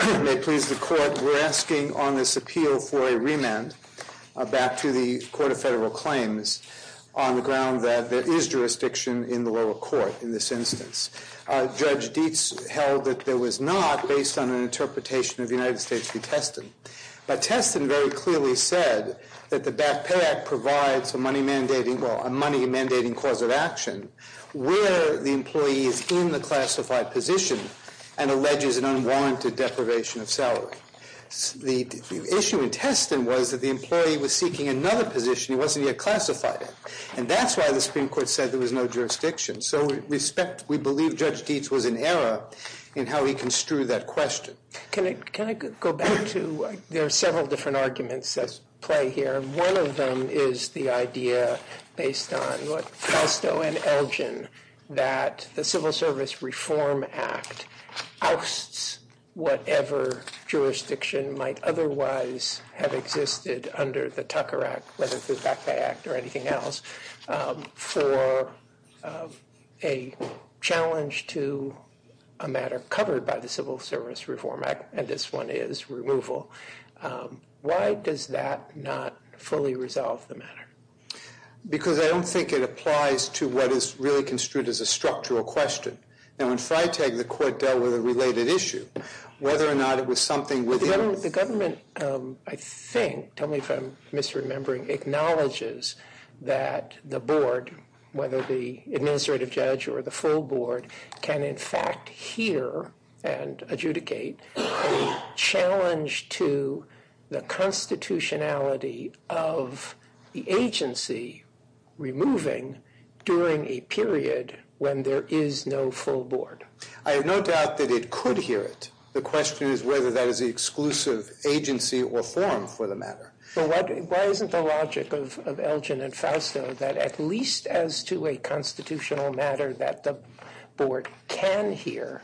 Court of Federal Claims, on the ground that there is jurisdiction in the lower court in this instance. Judge Dietz held that there was not, based on an interpretation of United States v. Teston. But Teston very clearly said that the Back Pay Act provides a money mandating cause of action where the employee is in the classified position and alleges an unwarranted deprivation of salary. The issue in Teston was that the employee was seeking another position he wasn't yet classified in. And that's why the Supreme Court said there was no jurisdiction. So we respect, we believe Judge Dietz was in error in how he construed that question. Can I, can I go back to, there are several different arguments at play here. One of them is the idea based on what Castro and Elgin, that the Civil Service Reform Act ousts whatever jurisdiction might otherwise have existed under the Tucker Act, whether it's the Back Pay Act or anything else, for a challenge to a matter covered by the Civil Service Reform Act, and this one is removal. Why does that not fully resolve the matter? Because I don't think it applies to what is really construed as a structural question. Now in Freytag, the court dealt with a related issue. Whether or not it was something within The government, I think, tell me if I'm misremembering, acknowledges that the board, whether the administrative judge or the full board, can in fact hear and adjudicate a challenge to the constitutionality of the agency removing during a period when there is no full board. I have no doubt that it could hear it. The question is whether that is the exclusive agency or form for the matter. So why isn't the logic of Elgin and Fausto that at least as to a constitutional matter that the board can hear,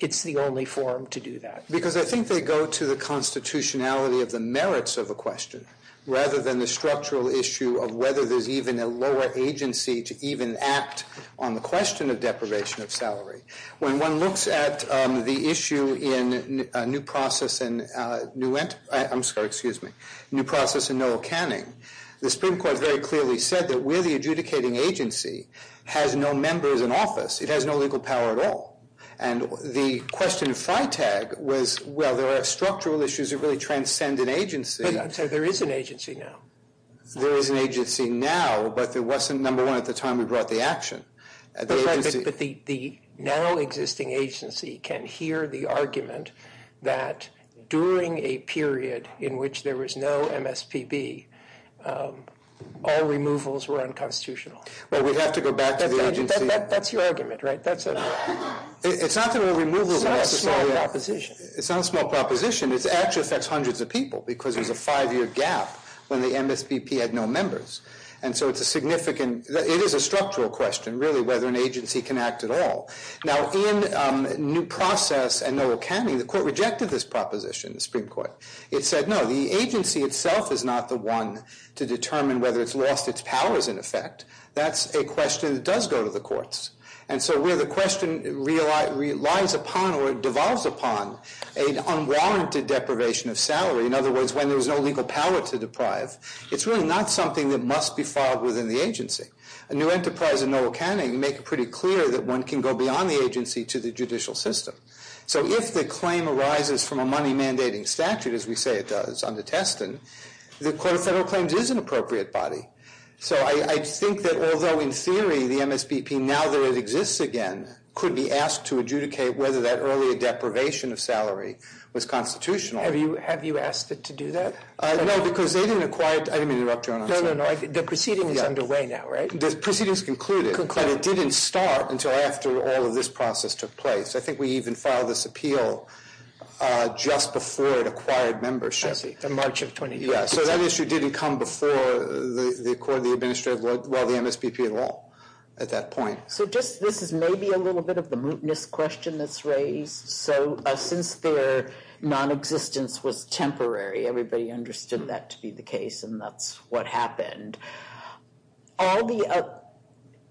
it's the only form to do that? Because I think they go to the constitutionality of the merits of the question rather than the structural issue of whether there's even a lower agency to even act on the question of deprivation of salary. When one looks at the issue in a new process and new, I'm sorry, excuse me, new process in Noel Canning, the Supreme Court very clearly said that where the adjudicating agency has no members in office, it has no legal power at all. And the question of Freytag was, well, there are structural issues that really transcend an agency. I'm sorry, there is an agency now. There is an agency now, but there wasn't, number one, at the time we brought the action. But the now existing agency can hear the argument that during a period in which there was no MSPB, all removals were unconstitutional. Well, we'd have to go back to the agency. That's your argument, right? It's not that all removals were unconstitutional. It's not a small proposition. It's not a small proposition. It actually affects hundreds of people because there's a five-year gap when the MSPB had no members. And so it's a significant, it is a structural question, really, whether an agency can act at all. Now, in new process and Noel Canning, the court rejected this proposition, the Supreme Court. It said, no, the agency itself is not the one to determine whether it's lost its powers in effect. That's a question that does go to the courts. And so where the question relies upon or devolves upon an unwarranted deprivation of salary, in other words, when there's no legal power to deprive, it's really not something that must be filed within the agency. A new enterprise in Noel Canning, you make it pretty clear that one can go beyond the agency to the judicial system. So if the claim arises from a money-mandating statute, as we say it does under Teston, the Court of Federal Claims is an appropriate body. So I think that although in theory the MSPB, now that it exists again, could be asked to adjudicate whether that earlier deprivation of salary was constitutional. Have you asked it to do that? No, because they didn't acquire it. I didn't mean to interrupt you, Your Honor. No, no, no. The proceeding is underway now, right? The proceeding is concluded. But it didn't start until after all of this process took place. I think we even filed this appeal just before it acquired membership. I see. In March of 2012. Yeah. So that issue didn't come before the court, the administrative, well, the MSPB at all at that point. So just, this is maybe a little bit of the mootness question that's raised. So since their nonexistence was temporary, everybody understood that to be the case, and that's what happened, all the,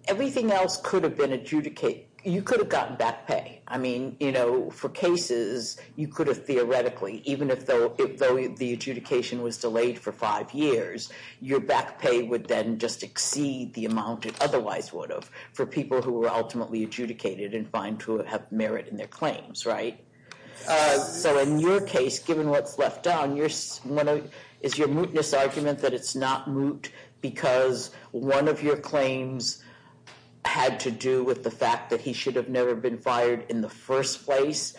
everything else could have been adjudicated, you could have gotten back pay. I mean, you know, for cases, you could have theoretically, even if the adjudication was delayed for five years, your back pay would then just exceed the amount it otherwise would have, for people who were ultimately adjudicated and find to have merit in their claims, right? So in your case, given what's left on, is your mootness argument that it's not moot because one of your claims had to do with the fact that he should have never been fired in the first place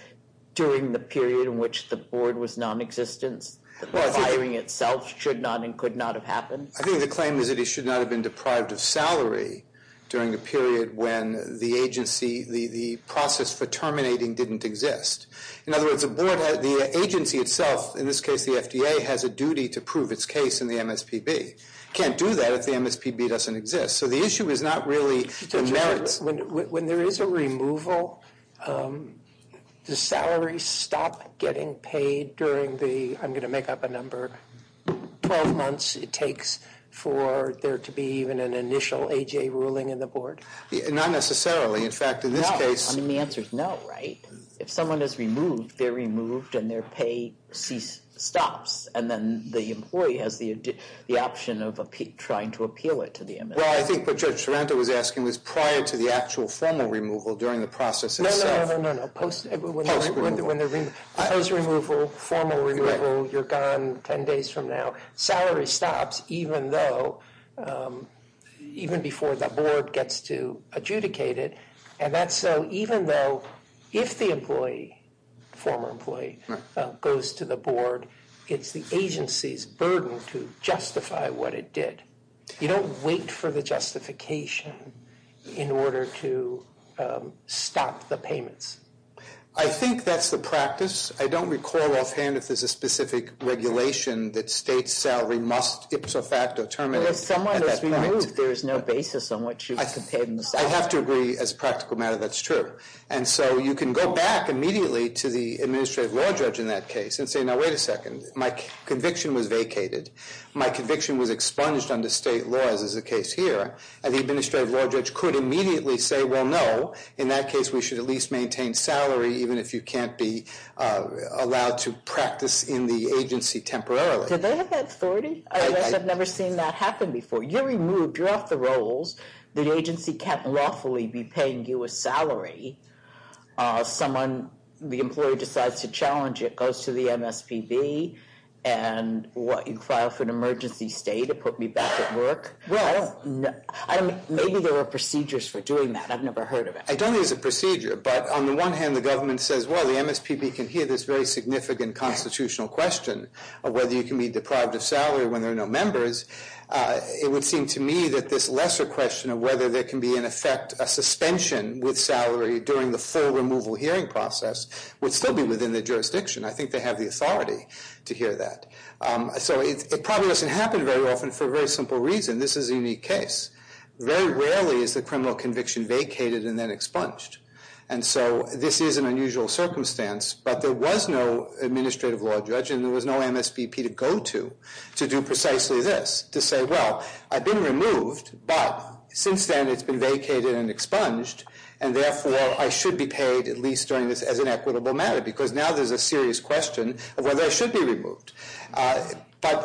during the period in which the board was nonexistent? The firing itself should not and could not have happened? I think the claim is that he should not have been deprived of salary during the period when the agency, the process for terminating didn't exist. In other words, the agency itself, in this case the FDA, has a duty to prove its case in the MSPB. Can't do that if the MSPB doesn't exist. So the issue is not really the merits. When there is a removal, does salary stop getting paid during the, I'm going to make for there to be even an initial AJ ruling in the board? Not necessarily. In fact, in this case... No. I mean, the answer is no, right? If someone is removed, they're removed and their pay stops. And then the employee has the option of trying to appeal it to the MSPB. Well, I think what Judge Sorrento was asking was prior to the actual formal removal during the process itself. No, no, no, no, no. Post removal. Post removal. Post removal, formal removal, you're gone 10 days from now. So salary stops even though, even before the board gets to adjudicate it. And that's so even though if the employee, former employee, goes to the board, it's the agency's burden to justify what it did. You don't wait for the justification in order to stop the payments. I think that's the practice. I don't recall offhand if there's a specific regulation that states' salary must ipso facto terminate. Well, if someone is removed, there's no basis on what you can pay them. I have to agree, as a practical matter, that's true. And so you can go back immediately to the administrative law judge in that case and say, now, wait a second, my conviction was vacated. My conviction was expunged under state laws, as is the case here. And the administrative law judge could immediately say, well, no, in that case, we should at even if you can't be allowed to practice in the agency temporarily. Do they have that authority? I've never seen that happen before. You're removed. You're off the rolls. The agency can't lawfully be paying you a salary. Someone, the employee decides to challenge it, goes to the MSPB, and what, you file for an emergency stay to put me back at work? Well, maybe there are procedures for doing that. I've never heard of it. I don't think it's a procedure, but on the one hand, the government says, well, the MSPB can hear this very significant constitutional question of whether you can be deprived of salary when there are no members. It would seem to me that this lesser question of whether there can be, in effect, a suspension with salary during the full removal hearing process would still be within the jurisdiction. I think they have the authority to hear that. So it probably doesn't happen very often for a very simple reason. This is a unique case. Very rarely is the criminal conviction vacated and then expunged. And so this is an unusual circumstance, but there was no administrative law judge and there was no MSBP to go to to do precisely this, to say, well, I've been removed, but since then it's been vacated and expunged, and therefore I should be paid at least during this as an equitable matter, because now there's a serious question of whether I should be removed.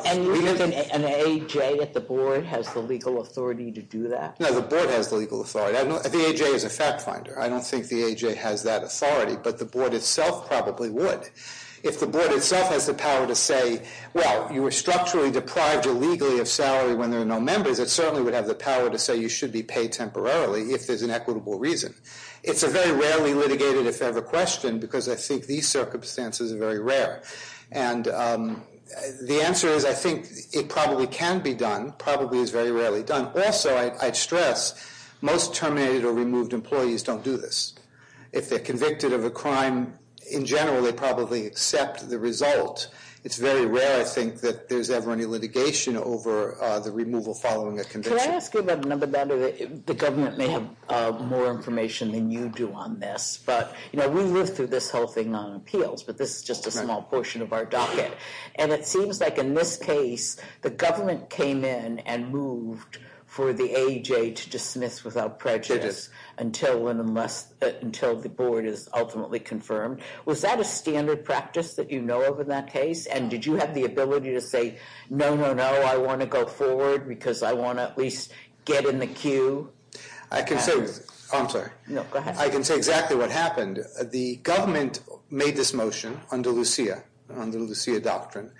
And you think an AJ at the board has the legal authority to do that? No, the board has the legal authority. The AJ is a fact finder. I don't think the AJ has that authority, but the board itself probably would. If the board itself has the power to say, well, you were structurally deprived illegally of salary when there are no members, it certainly would have the power to say you should be paid temporarily if there's an equitable reason. It's a very rarely litigated, if ever, question because I think these circumstances are very rare. And the answer is I think it probably can be done, probably is very rarely done. Also, I'd stress, most terminated or removed employees don't do this. If they're convicted of a crime in general, they probably accept the result. It's very rare, I think, that there's ever any litigation over the removal following a conviction. Can I ask you about another matter? The government may have more information than you do on this, but we live through this whole thing on appeals, but this is just a small portion of our docket. And it seems like in this case, the government came in and moved for the AJ to dismiss without prejudice until the board is ultimately confirmed. Was that a standard practice that you know of in that case? And did you have the ability to say, no, no, no, I want to go forward because I want to at least get in the queue? I can say, I'm sorry. No, go ahead. I can say exactly what happened. The government made this motion under Lucia, under Lucia doctrine,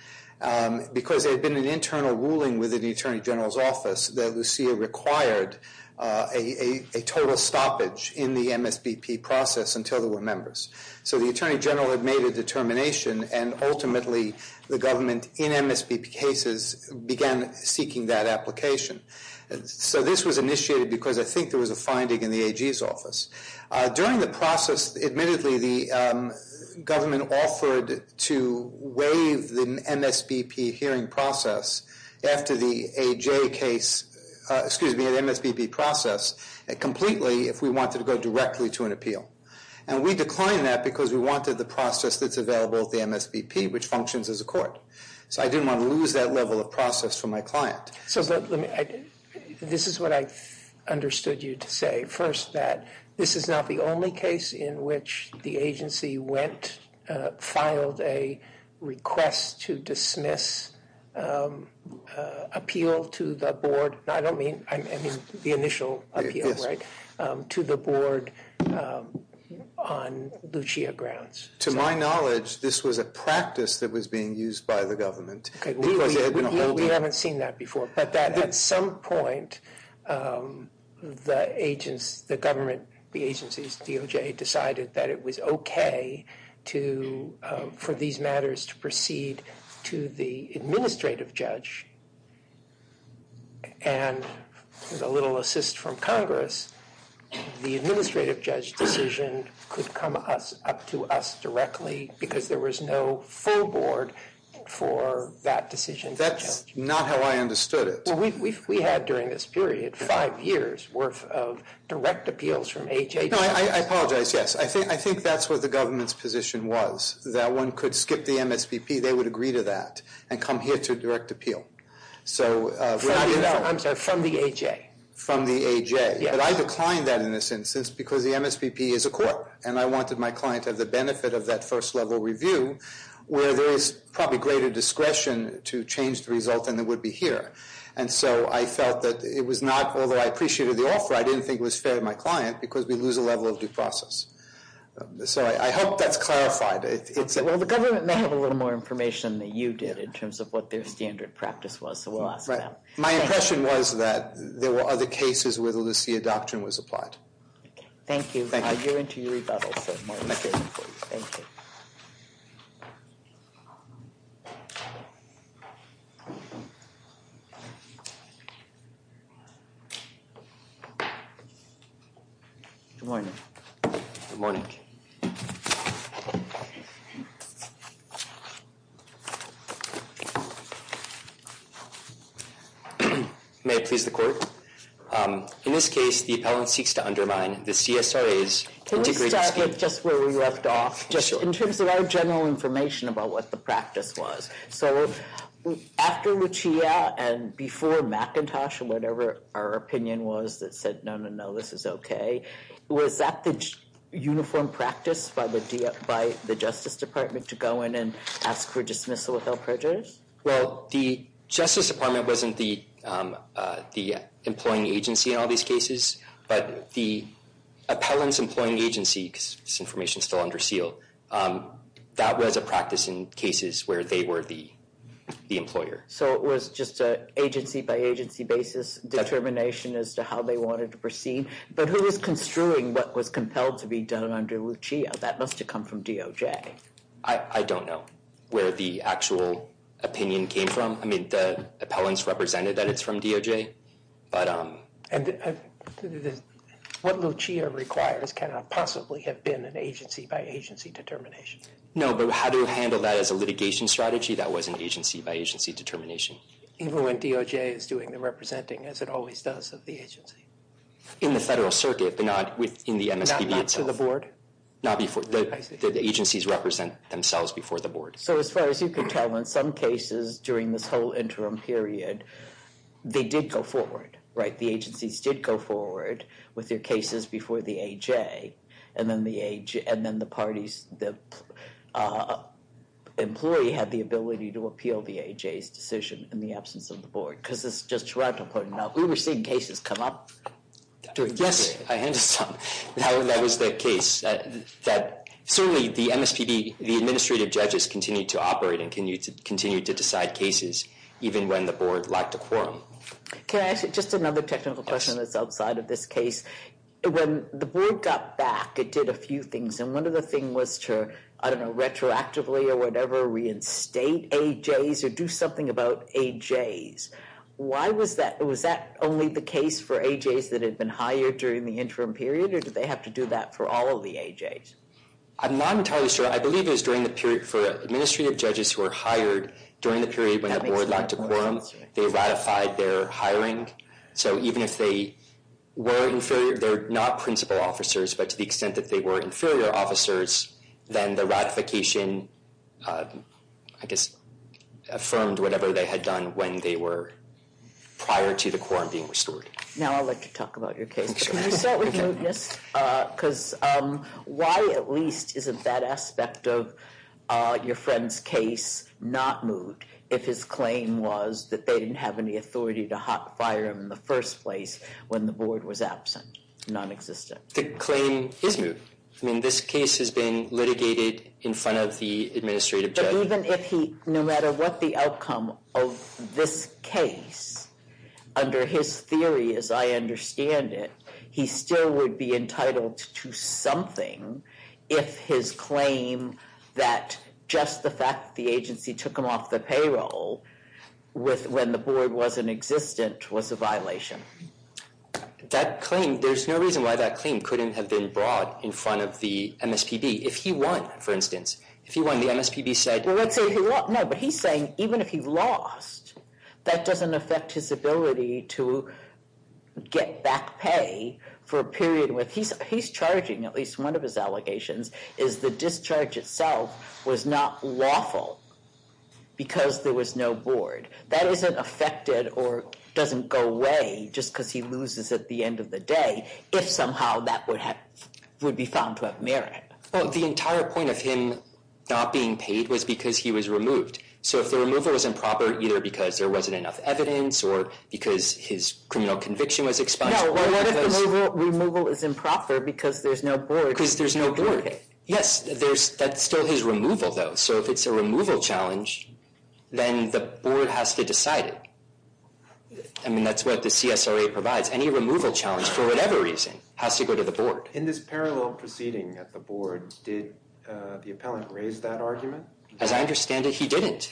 because there had been an internal ruling within the Attorney General's office that Lucia required a total stoppage in the MSBP process until there were members. So the Attorney General had made a determination, and ultimately the government in MSBP cases began seeking that application. So this was initiated because I think there was a finding in the AG's office. During the process, admittedly, the government offered to waive the MSBP hearing process after the AJ case, excuse me, the MSBP process completely if we wanted to go directly to an appeal. And we declined that because we wanted the process that's available at the MSBP, which functions as a court. So I didn't want to lose that level of process for my client. So this is what I understood you to say. First, that this is not the only case in which the agency went, filed a request to dismiss appeal to the board. I don't mean, I mean the initial appeal, right? To the board on Lucia grounds. To my knowledge, this was a practice that was being used by the government. We haven't seen that before. But at some point, the government, the agency's DOJ decided that it was okay for these matters to proceed to the administrative judge. And with a little assist from Congress, the administrative judge decision could come up to us directly because there was no full board for that decision. That's not how I understood it. We had during this period five years worth of direct appeals from AJ. No, I apologize. Yes, I think that's what the government's position was. That one could skip the MSBP. They would agree to that and come here to direct appeal. I'm sorry, from the AJ. From the AJ. But I declined that in this instance because the MSBP is a court. And I wanted my client to have the benefit of that first level review where there is probably greater discretion to change the result than there would be here. And so I felt that it was not, although I appreciated the offer, I didn't think it was fair to my client because we lose a level of due process. So I hope that's clarified. Well, the government may have a little more information than you did in terms of what their standard practice was, so we'll ask them. My impression was that there were other cases where the Lucia doctrine was applied. Thank you. You're into your rebuttal, sir. Thank you. Good morning. Good morning. May it please the Court. In this case, the appellant seeks to undermine the CSRA's integrated scheme. Can we start with just where we left off, just in terms of our general information about what the practice was? So after Lucia and before McIntosh and whatever our opinion was that said no, no, no, this is okay, was that the uniform practice by the Justice Department to go in and ask for dismissal without prejudice? Well, the Justice Department wasn't the employing agency in all these cases, but the appellant's employing agency, because this information is still under seal, that was a practice in cases where they were the employer. So it was just an agency-by-agency basis determination as to how they wanted to proceed? But who was construing what was compelled to be done under Lucia? That must have come from DOJ. I don't know where the actual opinion came from. I mean, the appellant's represented that it's from DOJ. What Lucia requires cannot possibly have been an agency-by-agency determination. No, but how to handle that as a litigation strategy, that was an agency-by-agency determination. Even when DOJ is doing the representing, as it always does, of the agency? In the Federal Circuit, but not in the MSPB itself. Not to the Board? The agencies represent themselves before the Board. So as far as you can tell, in some cases during this whole interim period, they did go forward, right? The agencies did go forward with their cases before the AJ, and then the parties, the employee had the ability to appeal the AJ's decision in the absence of the Board. Because it's just Toronto putting it out. We were seeing cases come up. Yes, I understand. That was the case. Certainly, the MSPB, the administrative judges continue to operate and continue to decide cases, even when the Board lacked a quorum. Can I ask just another technical question that's outside of this case? When the Board got back, it did a few things. And one of the things was to, I don't know, retroactively or whatever, reinstate AJs or do something about AJs. Why was that? Was that only the case for AJs that had been hired during the interim period? Or did they have to do that for all of the AJs? I'm not entirely sure. I believe it was during the period for administrative judges who were hired during the period when the Board lacked a quorum. They ratified their hiring. So even if they were inferior, they're not principal officers, but to the extent that they were inferior officers, then the ratification, I guess, affirmed whatever they had done when they were prior to the quorum being restored. Now I'd like to talk about your case. Can you start with mootness? Because why, at least, isn't that aspect of your friend's case not moot, if his claim was that they didn't have any authority to hot fire him in the first place when the Board was absent, non-existent? The claim is moot. I mean, this case has been litigated in front of the administrative judge. But even if he, no matter what the outcome of this case, under his theory as I understand it, he still would be entitled to something if his claim that just the fact that the agency took him off the payroll when the Board wasn't existent was a violation. That claim, there's no reason why that claim couldn't have been brought in front of the MSPB. If he won, for instance, if he won, the MSPB said... No, but he's saying even if he lost, that doesn't affect his ability to get back pay for a period. He's charging, at least one of his allegations, is the discharge itself was not lawful because there was no Board. That isn't affected or doesn't go away just because he loses at the end of the day, if somehow that would be found to have merit. Well, the entire point of him not being paid was because he was removed. So if the removal was improper, either because there wasn't enough evidence or because his criminal conviction was expunged... No, well, what if the removal is improper because there's no Board? Because there's no Board. Yes, that's still his removal, though. So if it's a removal challenge, then the Board has to decide it. I mean, that's what the CSRA provides. Any removal challenge, for whatever reason, has to go to the Board. In this parallel proceeding at the Board, did the appellant raise that argument? As I understand it, he didn't.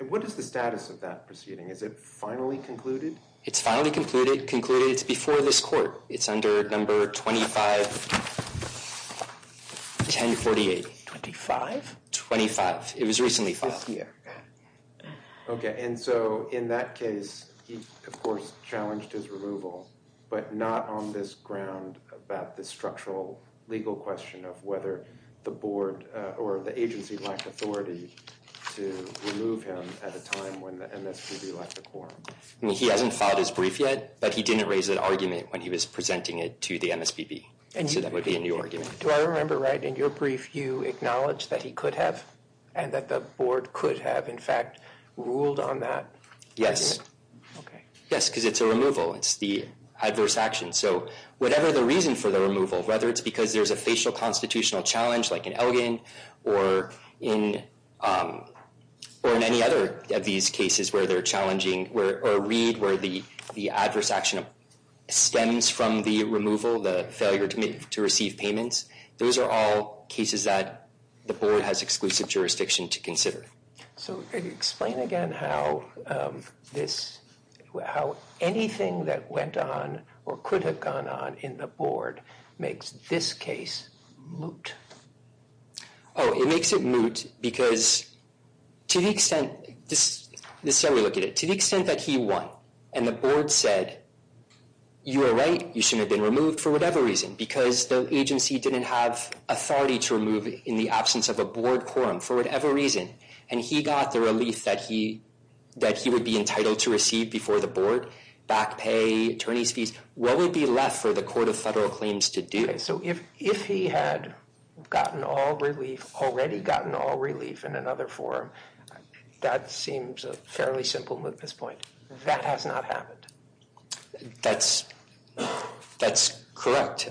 And what is the status of that proceeding? Is it finally concluded? It's finally concluded. Concluded, it's before this Court. It's under Number 251048. Twenty-five? Twenty-five. It was recently filed. This year. Okay, and so in that case, he, of course, challenged his removal, but not on this ground about the structural legal question of whether the Board or the agency lacked authority to remove him at a time when the MSPB lacked a quorum. I mean, he hasn't filed his brief yet, but he didn't raise that argument when he was presenting it to the MSPB. So that would be a new argument. Do I remember right, in your brief, you acknowledged that he could have and that the Board could have, in fact, ruled on that? Okay. Yes, because it's a removal. It's the adverse action. So whatever the reason for the removal, whether it's because there's a facial constitutional challenge like in Elgin or in any other of these cases where they're challenging or read where the adverse action stems from the removal, the failure to receive payments, those are all cases that the Board has exclusive jurisdiction to consider. So explain again how anything that went on or could have gone on in the Board makes this case moot. Oh, it makes it moot because to the extent that he won and the Board said, you are right, you shouldn't have been removed for whatever reason, because the agency didn't have authority to remove in the absence of a Board quorum for whatever reason. And he got the relief that he would be entitled to receive before the Board, back pay, attorney's fees. What would be left for the Court of Federal Claims to do? So if he had gotten all relief, already gotten all relief in another forum, that seems a fairly simple mootness point. That has not happened. That's correct.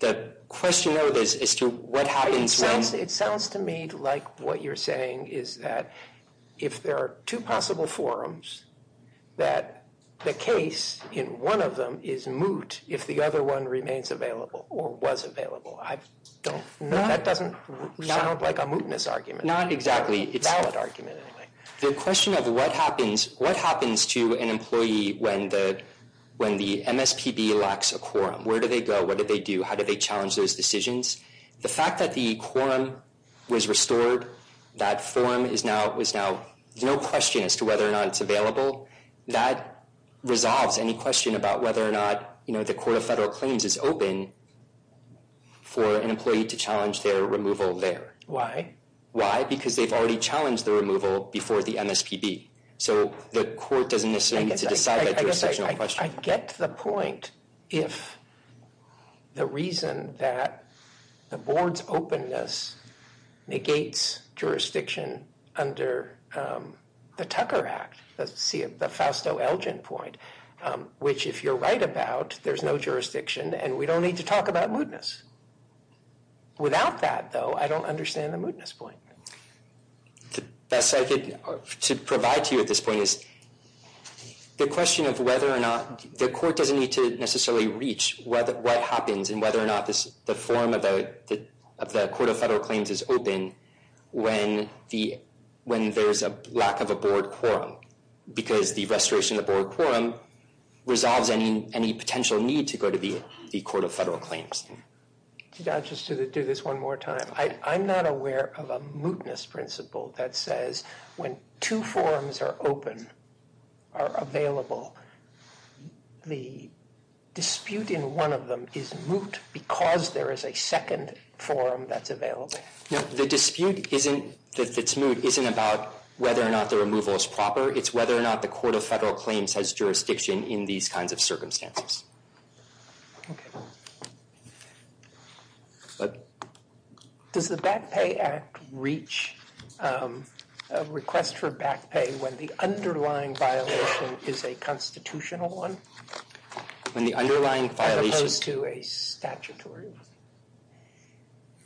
The question, though, is to what happens when? It sounds to me like what you're saying is that if there are two possible forums, that the case in one of them is moot if the other one remains available or was available. That doesn't sound like a mootness argument. Not exactly. It's a valid argument anyway. The question of what happens to an employee when the MSPB lacks a quorum. Where do they go? What do they do? How do they challenge those decisions? The fact that the quorum was restored, that forum is now, there's no question as to whether or not it's available. That resolves any question about whether or not, you know, the Court of Federal Claims is open for an employee to challenge their removal there. Why? Why? Because they've already challenged the removal before the MSPB. So the court doesn't necessarily need to decide that jurisdictional question. I get the point if the reason that the board's openness negates jurisdiction under the Tucker Act, the Fausto-Elgin point, which if you're right about, there's no jurisdiction, and we don't need to talk about mootness. Without that, though, I don't understand the mootness point. The best I could provide to you at this point is the question of whether or not, the court doesn't need to necessarily reach what happens and whether or not the forum of the Court of Federal Claims is open when there's a lack of a board quorum. Because the restoration of the board quorum resolves any potential need to go to the Court of Federal Claims. Could I just do this one more time? I'm not aware of a mootness principle that says when two forums are open, are available, the dispute in one of them is moot because there is a second forum that's available. The dispute that's moot isn't about whether or not the removal is proper. It's whether or not the Court of Federal Claims has jurisdiction in these kinds of circumstances. Does the Back Pay Act reach a request for back pay when the underlying violation is a constitutional one? When the underlying violation... As opposed to a statutory one.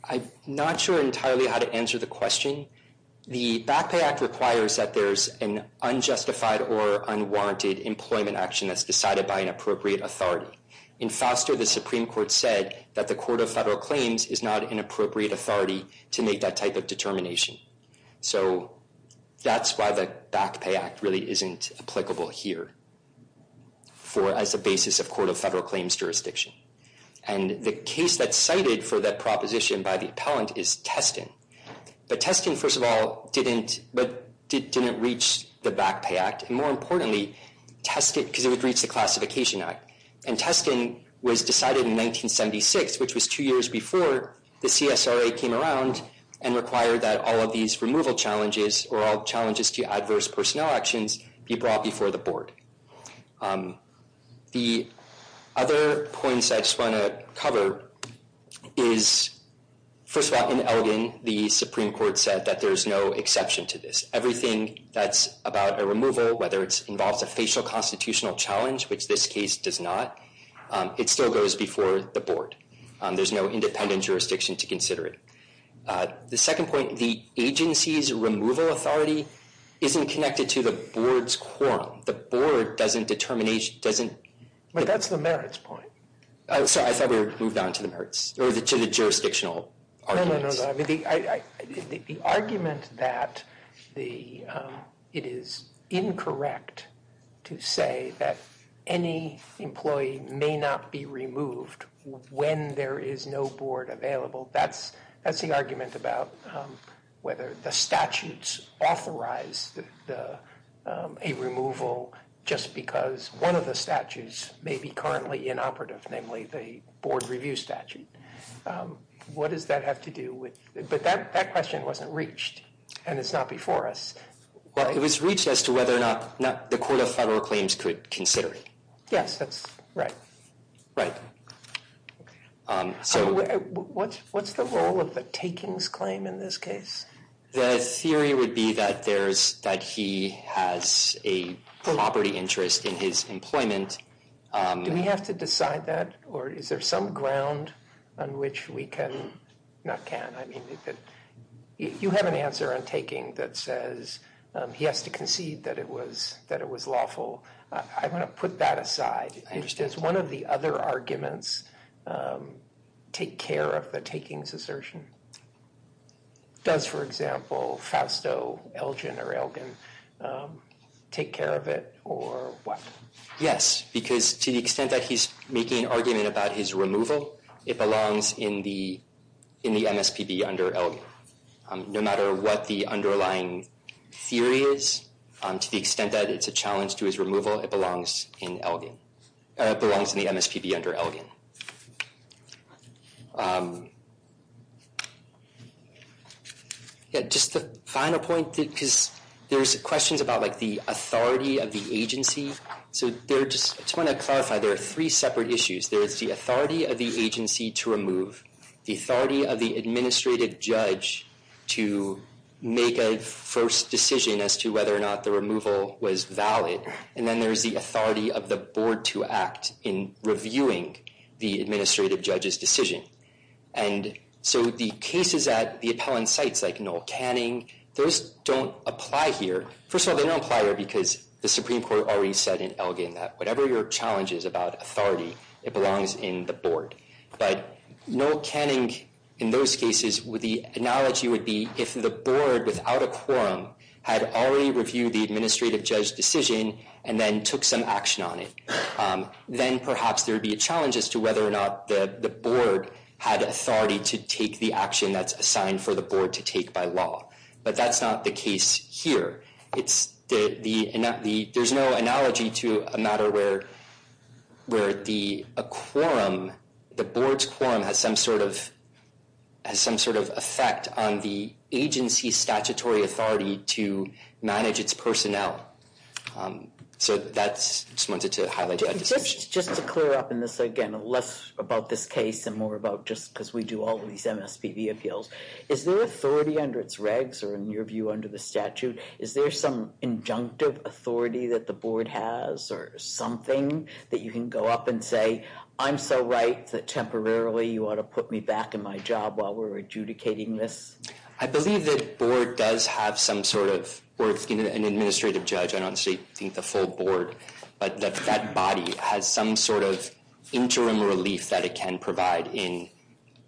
I'm not sure entirely how to answer the question. The Back Pay Act requires that there's an unjustified or unwarranted employment action that's decided by an appropriate authority. In Foster, the Supreme Court said that the Court of Federal Claims is not an appropriate authority to make that type of determination. So that's why the Back Pay Act really isn't applicable here as a basis of Court of Federal Claims jurisdiction. And the case that's cited for that proposition by the appellant is Teston. But Teston, first of all, didn't reach the Back Pay Act. And more importantly, Teston... Because it would reach the Classification Act. And Teston was decided in 1976, which was two years before the CSRA came around and required that all of these removal challenges or all challenges to adverse personnel actions be brought before the Board. The other points I just want to cover is... First of all, in Elgin, the Supreme Court said that there's no exception to this. Everything that's about a removal, whether it involves a facial constitutional challenge, which this case does not, it still goes before the Board. There's no independent jurisdiction to consider it. The second point, the agency's removal authority isn't connected to the Board's quorum. The Board doesn't determine... But that's the merits point. Sorry, I thought we moved on to the merits or to the jurisdictional arguments. No, no, no. The argument that it is incorrect to say that any employee may not be removed when there is no Board available, that's the argument about whether the statutes authorize a removal just because one of the statutes may be currently inoperative, namely the Board review statute. What does that have to do with... But that question wasn't reached, and it's not before us. It was reached as to whether or not the Court of Federal Claims could consider it. Yes, that's right. So what's the role of the takings claim in this case? The theory would be that he has a property interest in his employment. Do we have to decide that, or is there some ground on which we can... Not can, I mean... You have an answer on taking that says he has to concede that it was lawful. I want to put that aside. I understand. Does one of the other arguments take care of the takings assertion? Does, for example, Fausto Elgin take care of it, or what? Yes, because to the extent that he's making an argument about his removal, it belongs in the MSPB under Elgin. No matter what the underlying theory is, to the extent that it's a challenge to his removal, it belongs in Elgin. It belongs in the MSPB under Elgin. Just the final point, because there's questions about the authority of the agency. So I just want to clarify, there are three separate issues. There is the authority of the agency to remove, the authority of the administrative judge to make a first decision as to whether or not the removal was valid, and then there's the authority of the board to act in reviewing the administrative judge's decision. And so the cases at the appellant sites, like Noel Canning, those don't apply here. First of all, they don't apply here because the Supreme Court already said in Elgin that whatever your challenge is about authority, it belongs in the board. But Noel Canning, in those cases, the analogy would be if the board, without a quorum, had already reviewed the administrative judge's decision and then took some action on it. Then perhaps there would be a challenge as to whether or not the board had authority to take the action that's assigned for the board to take by law. But that's not the case here. There's no analogy to a matter where the quorum, the board's quorum, has some sort of effect on the agency's statutory authority to manage its personnel. So I just wanted to highlight that distinction. Just to clear up in this, again, less about this case and more about just because we do all of these MSPB appeals, is there authority under its regs or, in your view, under the statute, is there some injunctive authority that the board has or something that you can go up and say, I'm so right that temporarily you ought to put me back in my job while we're adjudicating this? I believe that a board does have some sort of, or an administrative judge, I don't think the full board, but that that body has some sort of interim relief that it can provide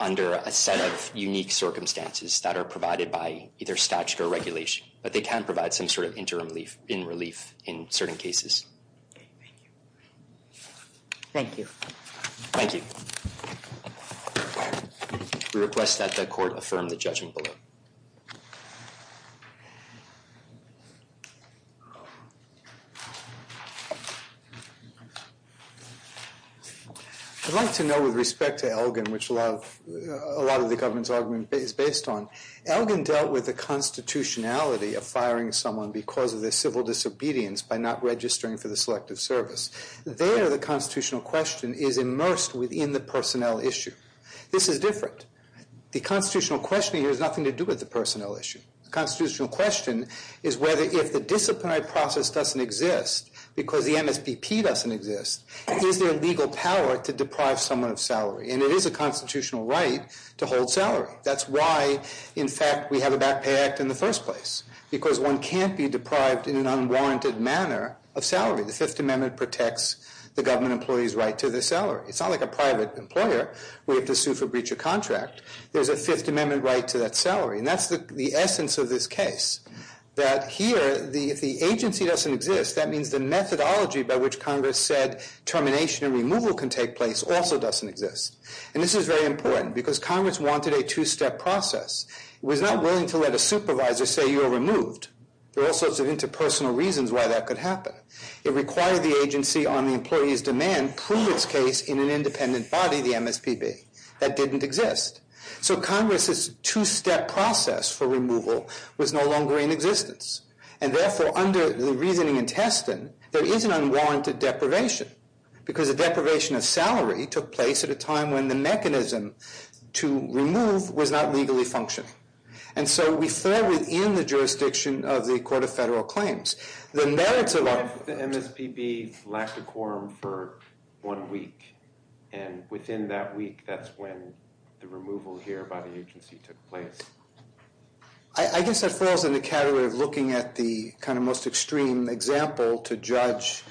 under a set of unique circumstances that are provided by either statute or regulation. But they can provide some sort of interim relief in certain cases. Okay, thank you. Thank you. Thank you. We request that the court affirm the judgment below. I'd like to know, with respect to Elgin, which a lot of the government's argument is based on, Elgin dealt with the constitutionality of firing someone because of their civil disobedience by not registering for the selective service. There, the constitutional question is immersed within the personnel issue. This is different. The constitutional question here has nothing to do with the personnel issue. The constitutional question is whether if the disciplinary process doesn't exist because the MSPP doesn't exist, is there legal power to deprive someone of salary? And it is a constitutional right to hold salary. That's why, in fact, we have a back pay act in the first place, because one can't be deprived in an unwarranted manner of salary. The Fifth Amendment protects the government employee's right to their salary. It's not like a private employer where you have to sue for breach of contract. There's a Fifth Amendment right to that salary. And that's the essence of this case, that here, if the agency doesn't exist, that means the methodology by which Congress said termination and removal can take place also doesn't exist. And this is very important because Congress wanted a two-step process. It was not willing to let a supervisor say you're removed. There are all sorts of interpersonal reasons why that could happen. It required the agency on the employee's demand prove its case in an independent body, the MSPB. That didn't exist. So Congress's two-step process for removal was no longer in existence. And therefore, under the reasoning and testing, there is an unwarranted deprivation because a deprivation of salary took place at a time when the mechanism to remove was not legally functioning. And so we fall within the jurisdiction of the Court of Federal Claims. The merits of our- The MSPB lacked a quorum for one week. And within that week, that's when the removal here by the agency took place. I guess that falls in the category of looking at the kind of most extreme example to judge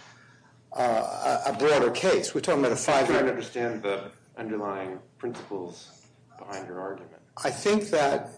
a broader case. We're talking about a five- I'm trying to understand the underlying principles behind your argument. I think that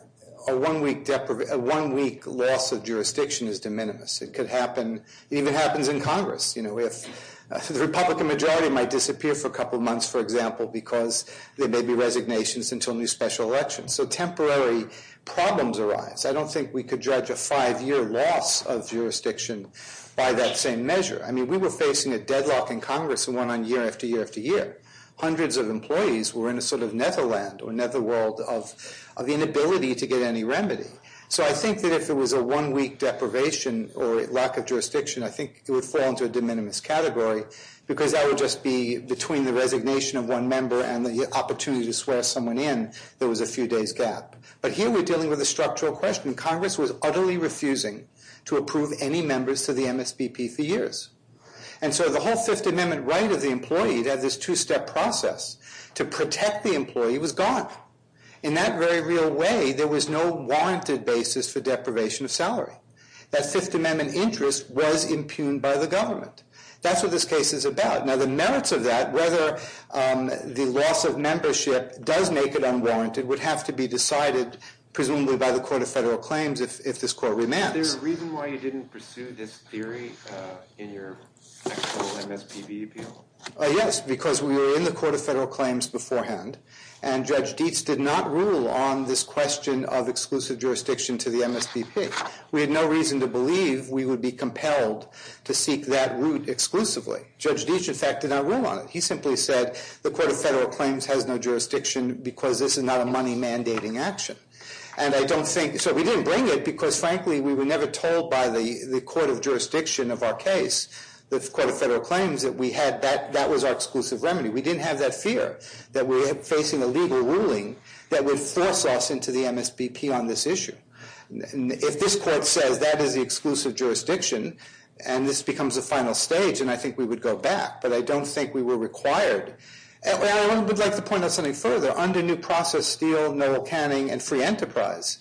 a one-week loss of jurisdiction is de minimis. It could happen. It even happens in Congress. The Republican majority might disappear for a couple months, for example, because there may be resignations until a new special election. So temporary problems arise. I don't think we could judge a five-year loss of jurisdiction by that same measure. I mean, we were facing a deadlock in Congress and one on year after year after year. Hundreds of employees were in a sort of netherland or netherworld of the inability to get any remedy. So I think that if there was a one-week deprivation or lack of jurisdiction, I think it would fall into a de minimis category because that would just be between the resignation of one member and the opportunity to swear someone in there was a few days gap. But here we're dealing with a structural question. Congress was utterly refusing to approve any members to the MSPP for years. And so the whole Fifth Amendment right of the employee to have this two-step process to protect the employee was gone. In that very real way, there was no warranted basis for deprivation of salary. That Fifth Amendment interest was impugned by the government. That's what this case is about. Now, the merits of that, whether the loss of membership does make it unwarranted, would have to be decided presumably by the Court of Federal Claims if this court remands. Is there a reason why you didn't pursue this theory in your actual MSPP appeal? Yes, because we were in the Court of Federal Claims beforehand. And Judge Dietz did not rule on this question of exclusive jurisdiction to the MSPP. We had no reason to believe we would be compelled to seek that route exclusively. Judge Dietz, in fact, did not rule on it. He simply said the Court of Federal Claims has no jurisdiction because this is not a money-mandating action. And I don't think—so we didn't bring it because, frankly, we were never told by the Court of Jurisdiction of our case, the Court of Federal Claims, that we had—that was our exclusive remedy. We didn't have that fear that we were facing a legal ruling that would force us into the MSPP on this issue. If this court says that is the exclusive jurisdiction and this becomes a final stage, then I think we would go back, but I don't think we were required. I would like to point out something further. Under New Process, Steele, Noel Canning, and Free Enterprise,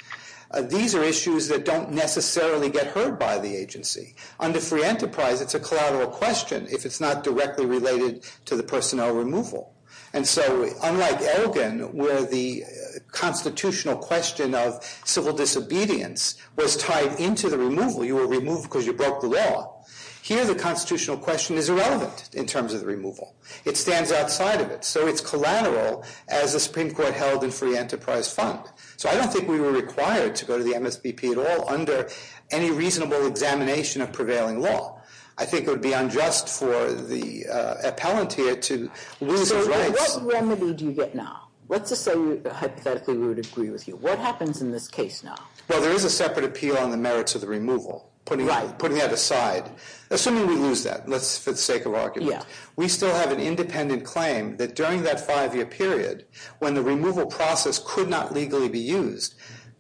these are issues that don't necessarily get heard by the agency. Under Free Enterprise, it's a collateral question if it's not directly related to the personnel removal. And so, unlike Elgin, where the constitutional question of civil disobedience was tied into the removal. You were removed because you broke the law. Here, the constitutional question is irrelevant in terms of the removal. It stands outside of it. So it's collateral as the Supreme Court held in Free Enterprise Fund. So I don't think we were required to go to the MSPP at all under any reasonable examination of prevailing law. I think it would be unjust for the appellant here to lose his rights. So what remedy do you get now? Let's just say hypothetically we would agree with you. What happens in this case now? Well, there is a separate appeal on the merits of the removal, putting that aside. Assuming we lose that, let's, for the sake of argument. We still have an independent claim that during that five-year period, when the removal process could not legally be used,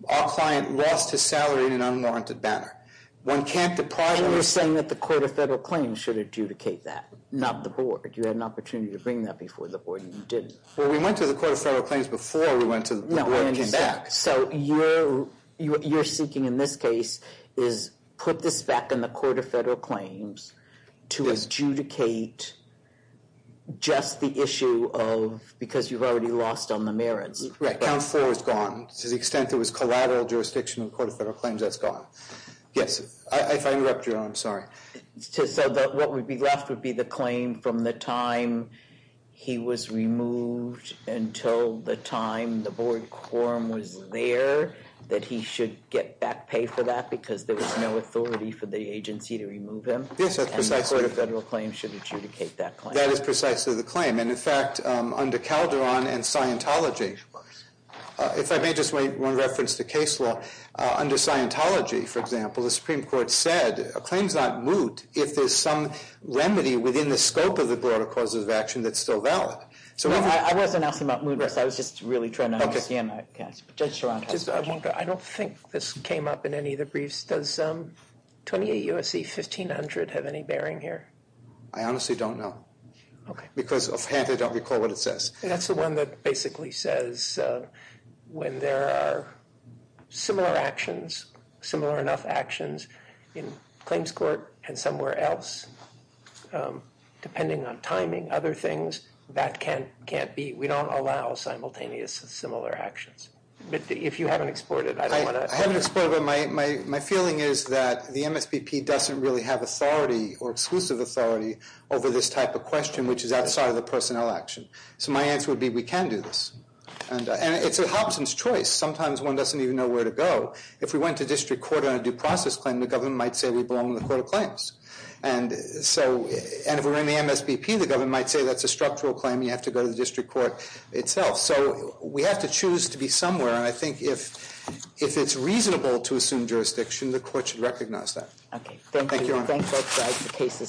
our client lost his salary in an unwarranted manner. And you're saying that the Court of Federal Claims should adjudicate that, not the Board. You had an opportunity to bring that before the Board, and you didn't. Well, we went to the Court of Federal Claims before we went to the Board and came back. So what you're seeking in this case is put this back in the Court of Federal Claims to adjudicate just the issue of because you've already lost on the merits. Correct. Count 4 is gone. To the extent there was collateral jurisdiction in the Court of Federal Claims, that's gone. Yes. If I interrupt you, I'm sorry. So what would be left would be the claim from the time he was removed until the time the Board quorum was there, that he should get back pay for that because there was no authority for the agency to remove him. Yes, that's precisely. And the Court of Federal Claims should adjudicate that claim. That is precisely the claim. And, in fact, under Calderon and Scientology, if I may just make one reference to case law, under Scientology, for example, the Supreme Court said, a claim's not moot if there's some remedy within the scope of the Board of Causes of Action that's still valid. I wasn't asking about moot risk. I was just really trying to understand that. Judge Sorantos. I don't think this came up in any of the briefs. Does 28 U.S.C. 1500 have any bearing here? I honestly don't know. Okay. Because I frankly don't recall what it says. That's the one that basically says when there are similar actions, similar enough actions in claims court and somewhere else, depending on timing, other things, that can't be. We don't allow simultaneous similar actions. But if you haven't explored it, I don't want to. I haven't explored it, but my feeling is that the MSPP doesn't really have authority or exclusive authority over this type of question, which is outside of the personnel action. So my answer would be we can do this. And it's a Hobson's choice. Sometimes one doesn't even know where to go. If we went to district court on a due process claim, the government might say we belong in the court of claims. And so if we're in the MSPP, the government might say that's a structural claim. You have to go to the district court itself. So we have to choose to be somewhere. And I think if it's reasonable to assume jurisdiction, the court should recognize that. Okay. Thank you. Thank you, Your Honor. I thank both sides of the case.